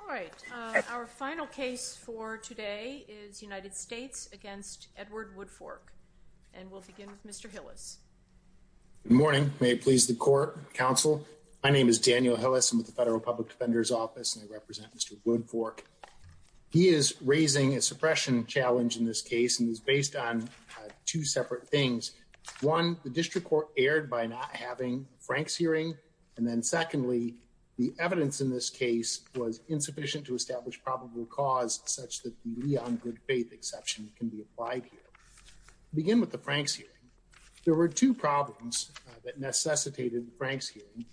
All right. Our final case for today is United States against Edward Woodfork. And we'll begin with Mr. Hillis. Good morning. May it please the court, counsel. My name is Daniel Hillis. I'm with the Federal Public Defender's Office, and I represent Mr. Woodfork. He is raising a suppression challenge in this case, and it's based on two separate things. One, the district court erred by not having Frank's hearing. And then secondly, the evidence in this case was insufficient to establish probable cause such that the Leon good faith exception can be applied here. Begin with the Frank's hearing. There were two problems that necessitated Frank's hearing.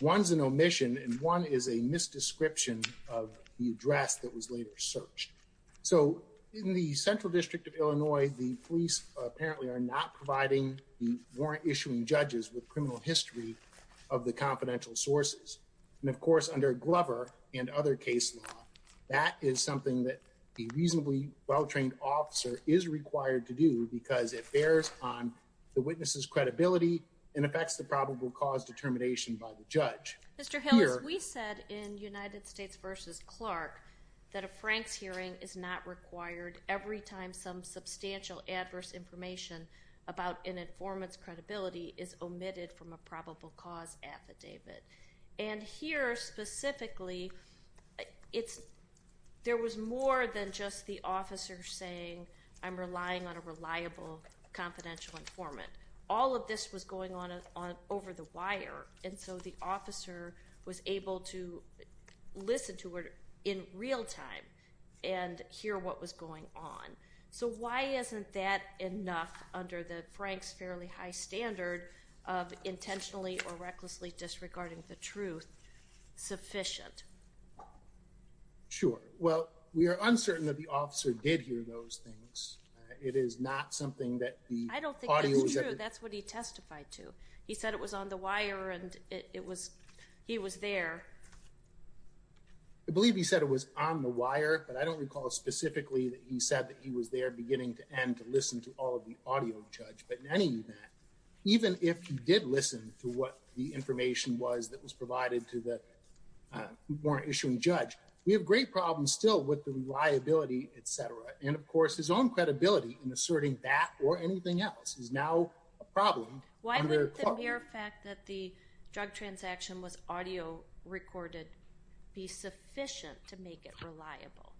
One's an omission and one is a misdescription of the address that was later searched. So in the Central District of Illinois, the police apparently are not providing the warrant issuing judges with criminal history of the confidential sources. And of course, under Glover and other case law, that is something that a reasonably well-trained officer is required to do because it bears on the witness's credibility and affects the probable cause determination by the judge. Mr. Hillis, we said in United States v. Clark that a Frank's hearing is not required every time some substantial adverse information about an informant's credibility is omitted from a probable cause affidavit. And here specifically, there was more than just the officer saying, I'm relying on a reliable confidential informant. All of this was going on over the wire. And so the officer was able to listen to it in real time and hear what was going on. So why isn't that enough under the Frank's fairly high standard of intentionally or recklessly disregarding the truth sufficient? Sure. Well, we are uncertain that the officer did hear those things. It is not something that the audio was- I don't think that's true. That's what he testified to. He said it was on the wire and he was there. I believe he said it was on the wire, but I don't recall specifically that he said that he was there beginning to end to listen to all of the audio, Judge. But in any event, even if he did listen to what the information was that was provided to the warrant issuing judge, we have great problems still with the reliability, et cetera. And of course, his own credibility in asserting that or anything else is now a problem. Why would the mere fact that the drug transaction was audio recorded be sufficient to make it reliable?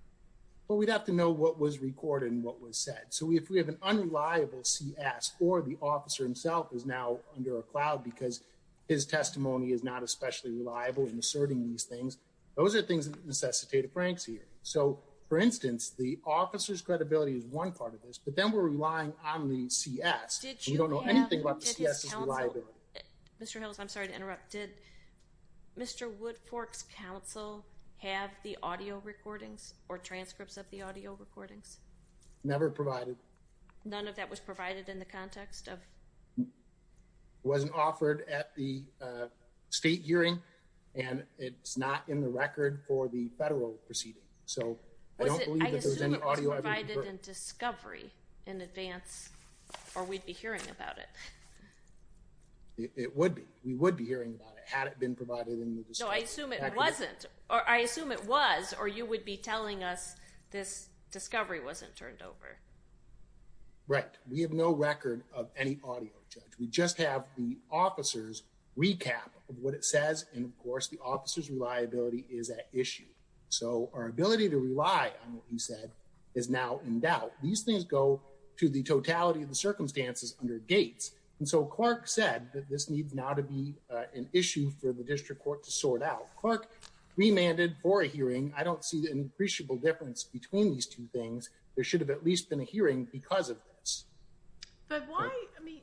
Well, we'd have to know what was recorded and what was said. So if we have an unreliable CS or the officer himself is now under a cloud because his testimony is not especially reliable in asserting these things, those are things that necessitate a Frank's hearing. So for instance, the officer's credibility is one part of this, but then we're relying on the CS. We don't know anything about the CS's reliability. Mr. Hills, I'm sorry to interrupt. Did Mr. Wood Fork's counsel have the audio recordings or transcripts of the audio recordings? Never provided. None of that was provided in the context of- It wasn't offered at the state hearing and it's not in the record for the federal proceeding. So I don't believe that there's any audio- I assume it was provided in discovery in advance or we'd be hearing about it. It would be. We would be hearing about it had it been provided in the discovery. No, I assume it wasn't. I assume it was or you would be telling us this discovery wasn't turned over. Right. We have no record of any audio, Judge. We just have the officer's recap of what it says and, of course, the officer's reliability is at issue. So our ability to rely on what you said is now in doubt. These things go to the totality of the circumstances under Gates. And so Clark said that this needs now to be an issue for the district court to sort out. Clark remanded for a hearing. I don't see the appreciable difference between these two things. There should have at least been a hearing because of this. But why-I mean,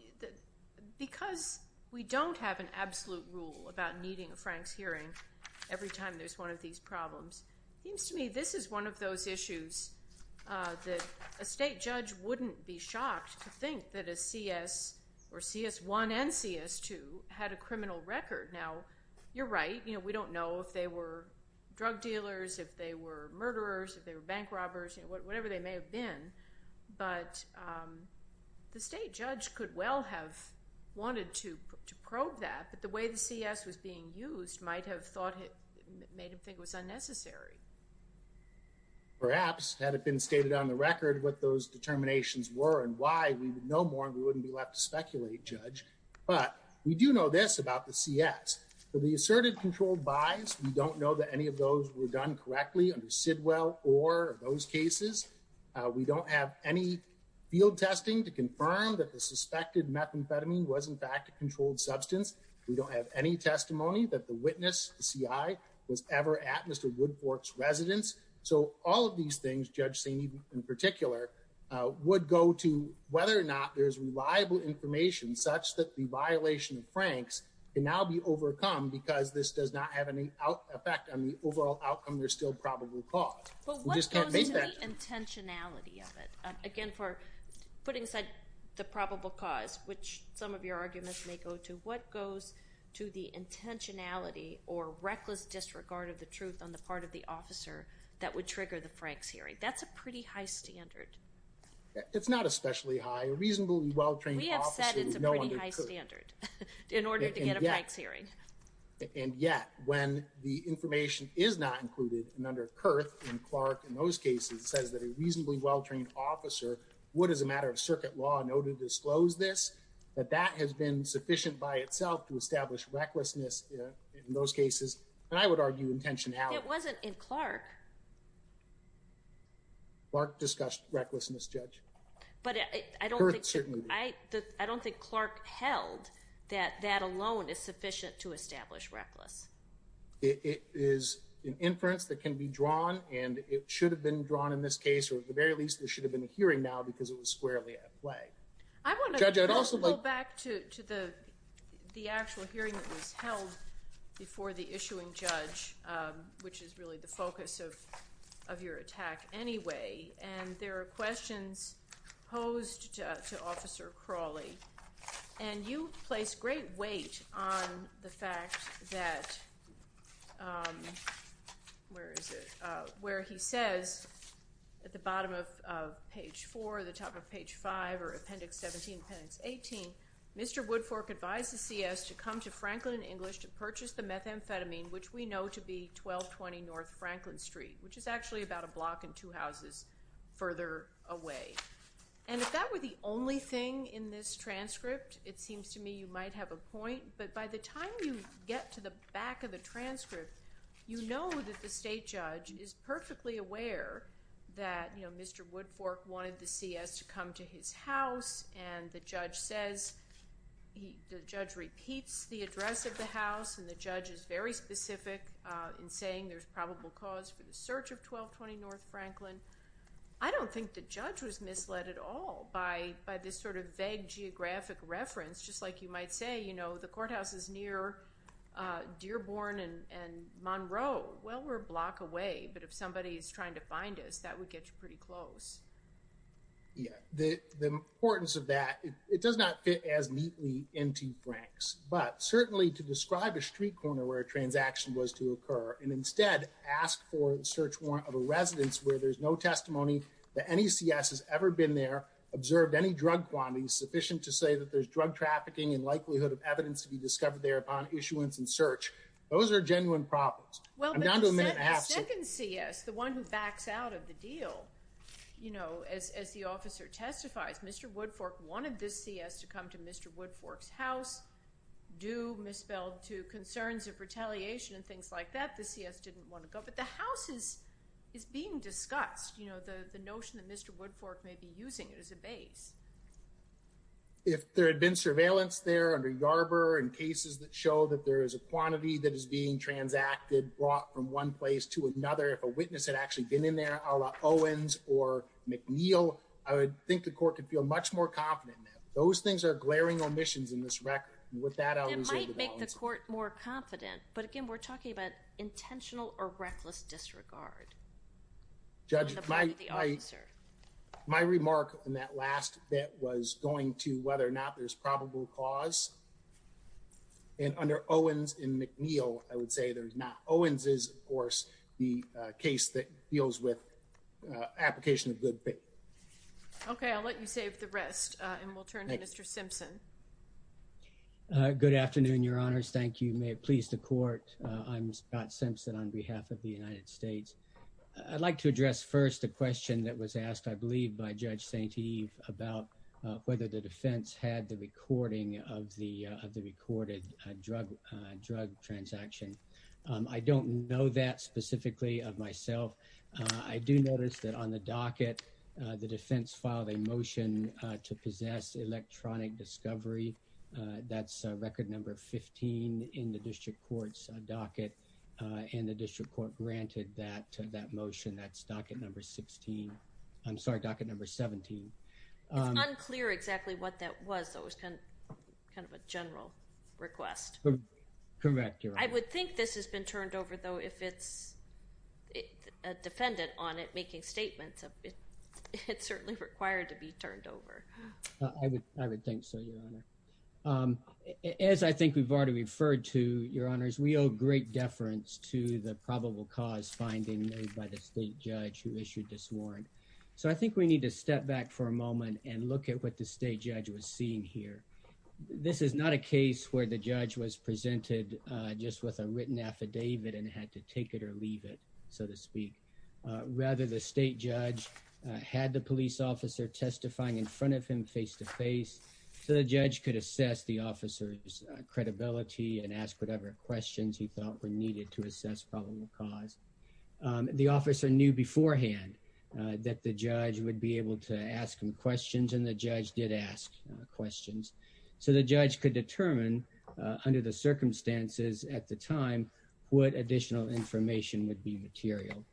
because we don't have an absolute rule about needing a Franks hearing every time there's one of these problems, it seems to me this is one of those issues that a state judge wouldn't be shocked to think that a CS or CS1 and CS2 had a criminal record. Now, you're right. We don't know if they were drug dealers, if they were murderers, if they were bank robbers, whatever they may have been. But the state judge could well have wanted to probe that. But the way the CS was being used might have made him think it was unnecessary. Perhaps, had it been stated on the record what those determinations were and why we would know more and we wouldn't be left to speculate, Judge. But we do know this about the CS. For the assertive controlled buys, we don't know that any of those were done correctly under Sidwell or those cases. We don't have any field testing to confirm that the suspected methamphetamine was, in fact, a controlled substance. We don't have any testimony that the witness, the CI, was ever at Mr. Woodfork's residence. So all of these things, Judge Saney in particular, would go to whether or not there's reliable information such that the violation of Franks can now be overcome because this does not have any effect on the overall outcome. There's still probable cause. But what goes to the intentionality of it? Again, for putting aside the probable cause, which some of your arguments may go to, what goes to the intentionality or reckless disregard of the truth on the part of the officer that would trigger the Franks hearing? That's a pretty high standard. It's not especially high. A reasonably well-trained officer would know under Kurth. We have said it's a pretty high standard in order to get a Franks hearing. And yet, when the information is not included, and under Kurth and Clark, in those cases, says that a reasonably well-trained officer would, as a matter of circuit law, know to disclose this, that that has been sufficient by itself to establish recklessness in those cases. And I would argue intentionality. It wasn't in Clark. Clark discussed recklessness, Judge. But I don't think Clark held that that alone is sufficient to establish reckless. It is an inference that can be drawn, and it should have been drawn in this case, or at the very least, there should have been a hearing now because it was squarely at play. I want to go back to the actual hearing that was held before the issuing judge, which is really the focus of your attack anyway. And there are questions posed to Officer Crawley. And you place great weight on the fact that, where is it, where he says at the bottom of page 4, the top of page 5, or Appendix 17, Appendix 18, Mr. Woodfork advised the CS to come to Franklin and English to purchase the methamphetamine, which we know to be 1220 North Franklin Street, which is actually about a block and two houses further away. And if that were the only thing in this transcript, it seems to me you might have a point. But by the time you get to the back of the transcript, you know that the state judge is perfectly aware that, you know, Mr. Woodfork wanted the CS to come to his house. And the judge says, the judge repeats the address of the house. And the judge is very specific in saying there's probable cause for the search of 1220 North Franklin. I don't think the judge was misled at all by this sort of vague geographic reference. Just like you might say, you know, the courthouse is near Dearborn and Monroe. Well, we're a block away. But if somebody is trying to find us, that would get you pretty close. Yeah. The importance of that, it does not fit as neatly into Frank's. But certainly to describe a street corner where a transaction was to occur, and instead ask for the search warrant of a residence where there's no testimony that any CS has ever been there, observed any drug quantities sufficient to say that there's drug trafficking and likelihood of evidence to be discovered there upon issuance and search. Those are genuine problems. Well, the second CS, the one who backs out of the deal, you know, as the officer testifies, Mr. Woodfork wanted this CS to come to Mr. Woodfork's house due, misspelled, to concerns of retaliation and things like that. The CS didn't want to go. But the house is being discussed, you know, the notion that Mr. Woodfork may be using it as a base. If there had been surveillance there under Yarbrough and cases that show that there is a quantity that is being transacted, brought from one place to another, if a witness had actually been in there a la Owens or McNeil, I would think the court could feel much more confident. Those things are glaring omissions in this record. And with that, I was able to answer. It might make the court more confident. But again, we're talking about intentional or reckless disregard. Judge, my my remark in that last bit was going to whether or not there's probable cause. And under Owens and McNeil, I would say there's not. Owens is, of course, the case that deals with application of good faith. OK, I'll let you save the rest and we'll turn to Mr. Simpson. Good afternoon, Your Honors. Thank you. May it please the court. I'm Scott Simpson on behalf of the United States. I'd like to address first the question that was asked, I believe, by Judge St. Eve about whether the defense had the recording of the of the recorded drug drug transaction. I don't know that specifically of myself. I do notice that on the docket, the defense filed a motion to possess electronic discovery. That's record number 15 in the district court's docket. And the district court granted that to that motion. That's docket number 16. I'm sorry, docket number 17. It's unclear exactly what that was. That was kind of a general request. Correct. I would think this has been turned over, though, if it's a defendant on it making statements. It's certainly required to be turned over. I would think so, Your Honor. As I think we've already referred to, Your Honors, we owe great deference to the probable cause finding made by the state judge who issued this warrant. So I think we need to step back for a moment and look at what the state judge was seeing here. This is not a case where the judge was presented just with a written affidavit and had to take it or leave it, so to speak. Rather, the state judge had the police officer testifying in front of him face to face. So the judge could assess the officer's credibility and ask whatever questions he thought were needed to assess probable cause. The officer knew beforehand that the judge would be able to ask him questions, and the judge did ask questions. So the judge could determine, under the circumstances at the time, what additional information would be material.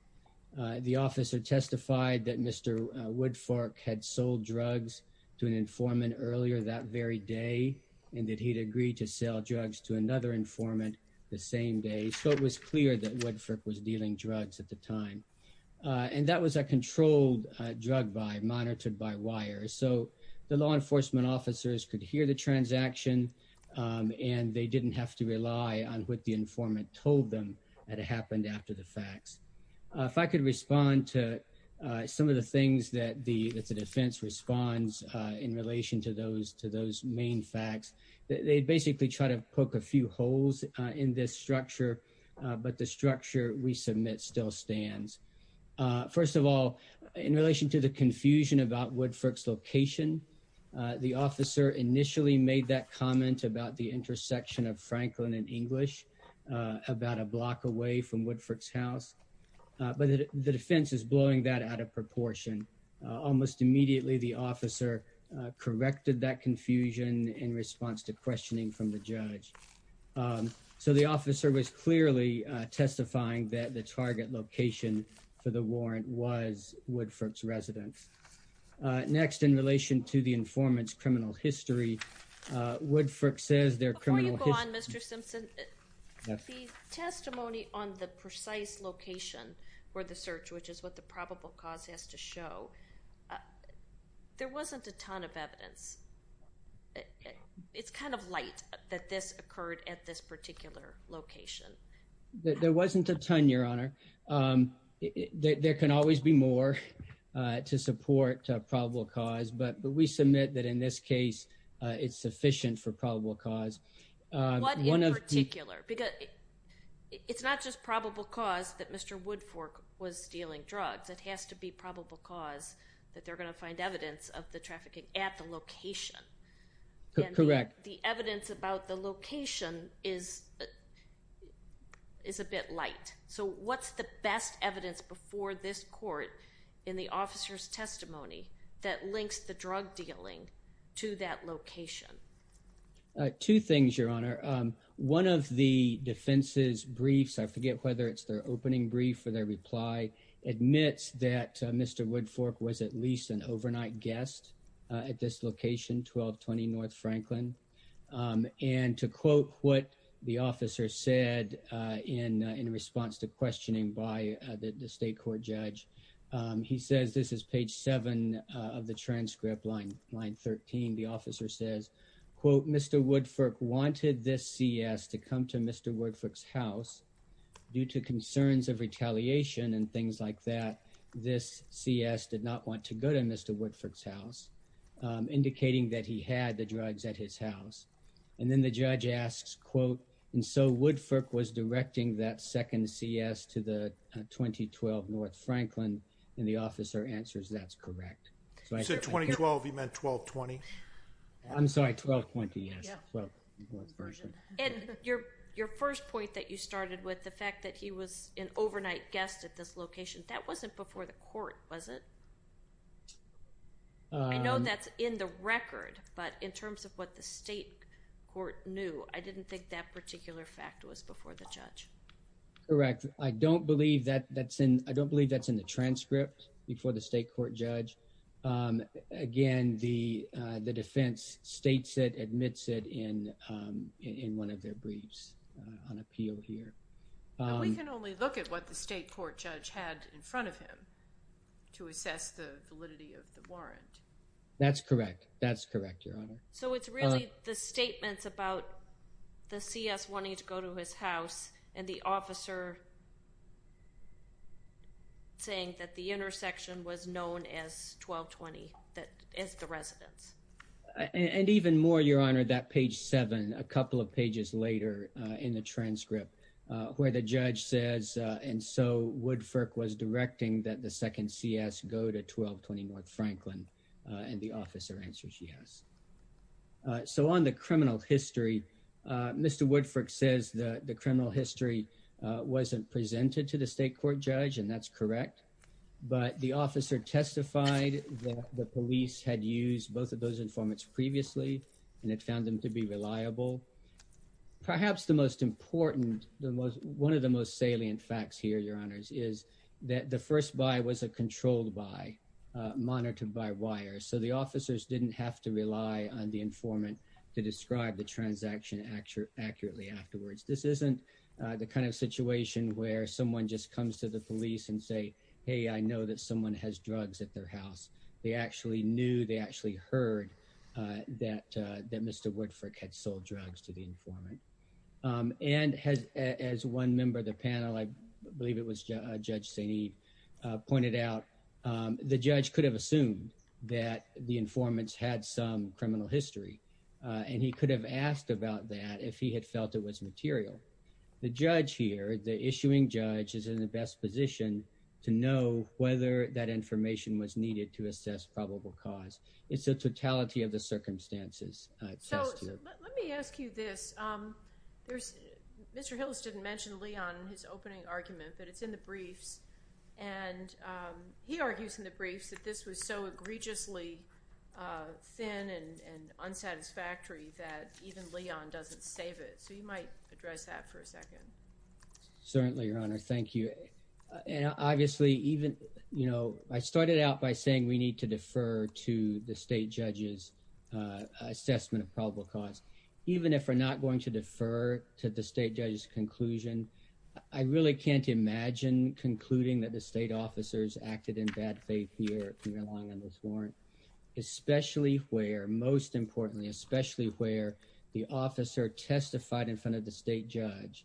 The officer testified that Mr. Woodford had sold drugs to an informant earlier that very day and that he'd agreed to sell drugs to another informant the same day. So it was clear that Woodford was dealing drugs at the time. And that was a controlled drug buy, monitored by wire. So the law enforcement officers could hear the transaction, and they didn't have to rely on what the informant told them had happened after the facts. If I could respond to some of the things that the defense responds in relation to those main facts, they basically try to poke a few holes in this structure, but the structure we submit still stands. First of all, in relation to the confusion about Woodford's location, the officer initially made that comment about the intersection of Franklin and English about a block away from Woodford's house. But the defense is blowing that out of proportion. Almost immediately, the officer corrected that confusion in response to questioning from the judge. So the officer was clearly testifying that the target location for the warrant was Woodford's residence. Next, in relation to the informant's criminal history, Woodford says their criminal history- Before you go on, Mr. Simpson, the testimony on the precise location for the search, which is what the probable cause has to show, there wasn't a ton of evidence. It's kind of light that this occurred at this particular location. There wasn't a ton, Your Honor. There can always be more to support probable cause, but we submit that in this case, it's sufficient for probable cause. What in particular? It's not just probable cause that Mr. Woodford was dealing drugs. It has to be probable cause that they're going to find evidence of the trafficking at the location. Correct. The evidence about the location is a bit light. So what's the best evidence before this court in the officer's testimony that links the drug dealing to that location? Two things, Your Honor. One of the defense's briefs, I forget whether it's their opening brief or their reply, admits that Mr. Woodford was at least an overnight guest at this location, 1220 North Franklin. And to quote what the officer said in response to questioning by the state court judge, he says, this is page seven of the transcript, line 13. The officer says, quote, Mr. Woodford wanted this CS to come to Mr. Woodford's house due to concerns of retaliation and things like that. This CS did not want to go to Mr. Woodford's house, indicating that he had the drugs at his house. And then the judge asks, quote, and so Woodford was directing that second CS to the 2012 North Franklin. And the officer answers, that's correct. You said 2012, he meant 1220? I'm sorry, 1220, yes. And your first point that you started with, the fact that he was an overnight guest at this location, that wasn't before the court, was it? I know that's in the record, but in terms of what the state court knew, I didn't think that particular fact was before the judge. Correct. I don't believe that's in the transcript before the state court judge. Again, the defense states it, admits it in one of their briefs on appeal here. We can only look at what the state court judge had in front of him to assess the validity of the warrant. That's correct. That's correct, Your Honor. So it's really the statements about the CS wanting to go to his house and the officer saying that the intersection was known as 1220, as the residence. And even more, Your Honor, that page seven, a couple of pages later in the transcript where the judge says, and so Woodford was directing that the second CS go to 1220 North Franklin, and the officer answers yes. So on the criminal history, Mr. Woodford says that the criminal history wasn't presented to the state court judge, and that's correct. But the officer testified that the police had used both of those informants previously, and it found them to be reliable. Perhaps the most important, one of the most salient facts here, Your Honor, is that the first buy was a controlled buy, monitored by wire. So the officers didn't have to rely on the informant to describe the transaction accurately afterwards. This isn't the kind of situation where someone just comes to the police and say, hey, I know that someone has drugs at their house. They actually knew, they actually heard that Mr. Woodford had sold drugs to the informant. And as one member of the panel, I believe it was Judge St. Eve, pointed out, the judge could have assumed that the informants had some criminal history. And he could have asked about that if he had felt it was material. The judge here, the issuing judge, is in the best position to know whether that information was needed to assess probable cause. It's the totality of the circumstances. So let me ask you this. Mr. Hillis didn't mention Leon in his opening argument, but it's in the briefs. And he argues in the briefs that this was so egregiously thin and unsatisfactory that even Leon doesn't save it. So you might address that for a second. Certainly, Your Honor. Thank you. And obviously, even, you know, I started out by saying we need to defer to the state judge's assessment of probable cause. Even if we're not going to defer to the state judge's conclusion, I really can't imagine concluding that the state officers acted in bad faith here at Premier Long on this warrant. Especially where, most importantly, especially where the officer testified in front of the state judge.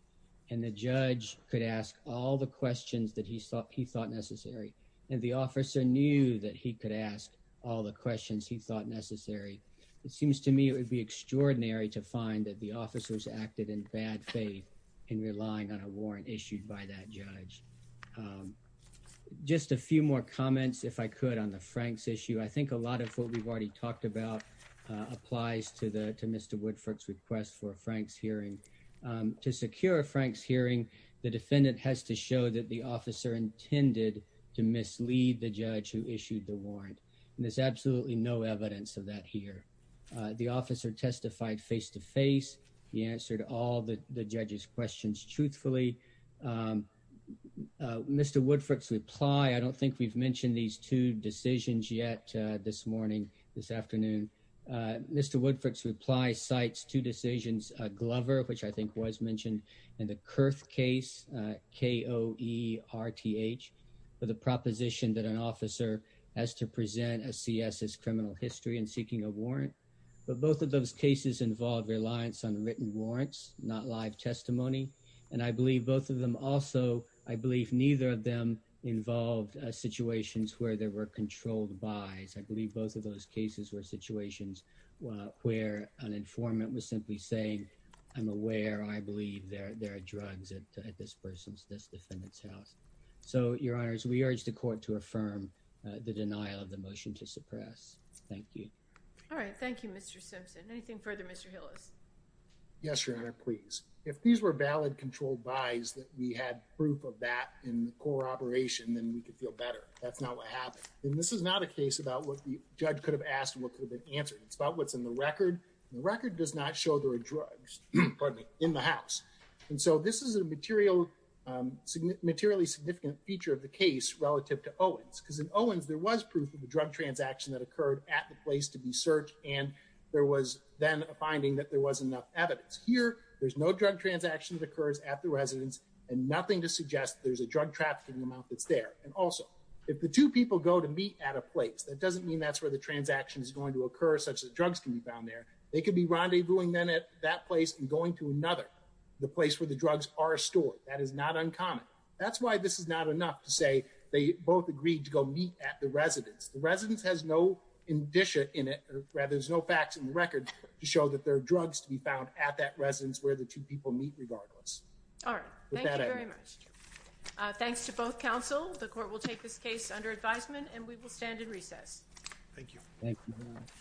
And the judge could ask all the questions that he thought necessary. And the officer knew that he could ask all the questions he thought necessary. It seems to me it would be extraordinary to find that the officers acted in bad faith in relying on a warrant issued by that judge. Just a few more comments, if I could, on the Frank's issue. I think a lot of what we've already talked about applies to Mr. Woodford's request for Frank's hearing. To secure Frank's hearing, the defendant has to show that the officer intended to mislead the judge who issued the warrant. And there's absolutely no evidence of that here. The officer testified face to face. He answered all the judge's questions truthfully. Mr. Woodford's reply, I don't think we've mentioned these two decisions yet this morning, this afternoon. Mr. Woodford's reply cites two decisions. Glover, which I think was mentioned in the Kurth case, K-O-E-R-T-H, for the proposition that an officer has to present a C.S. as criminal history and seeking a warrant. But both of those cases involve reliance on written warrants, not live testimony. And I believe both of them also, I believe neither of them involved situations where there were controlled buys. I believe both of those cases were situations where an informant was simply saying, I'm aware, I believe there are drugs at this person's, this defendant's house. So, your honors, we urge the court to affirm the denial of the motion to suppress. Thank you. All right, thank you, Mr. Simpson. Anything further, Mr. Hillis? Yes, your honor, please. If these were valid controlled buys that we had proof of that in the core operation, then we could feel better. That's not what happened. And this is not a case about what the judge could have asked and what could have been answered. It's about what's in the record. And the record does not show there are drugs, pardon me, in the house. And so, this is a materially significant feature of the case relative to Owens. Because in Owens, there was proof of a drug transaction that occurred at the place to be searched. And there was then a finding that there was enough evidence. Here, there's no drug transaction that occurs at the residence and nothing to suggest there's a drug trafficking amount that's there. And also, if the two people go to meet at a place, that doesn't mean that's where the transaction is going to occur such that drugs can be found there. They could be rendezvousing then at that place and going to another, the place where the drugs are stored. That is not uncommon. That's why this is not enough to say they both agreed to go meet at the residence. The residence has no indicia in it, or rather, there's no facts in the record to show that there are drugs to be found at that residence where the two people meet regardless. All right. Thank you very much. Thanks to both counsel. The court will take this case under advisement and we will stand in recess. Thank you. Thank you.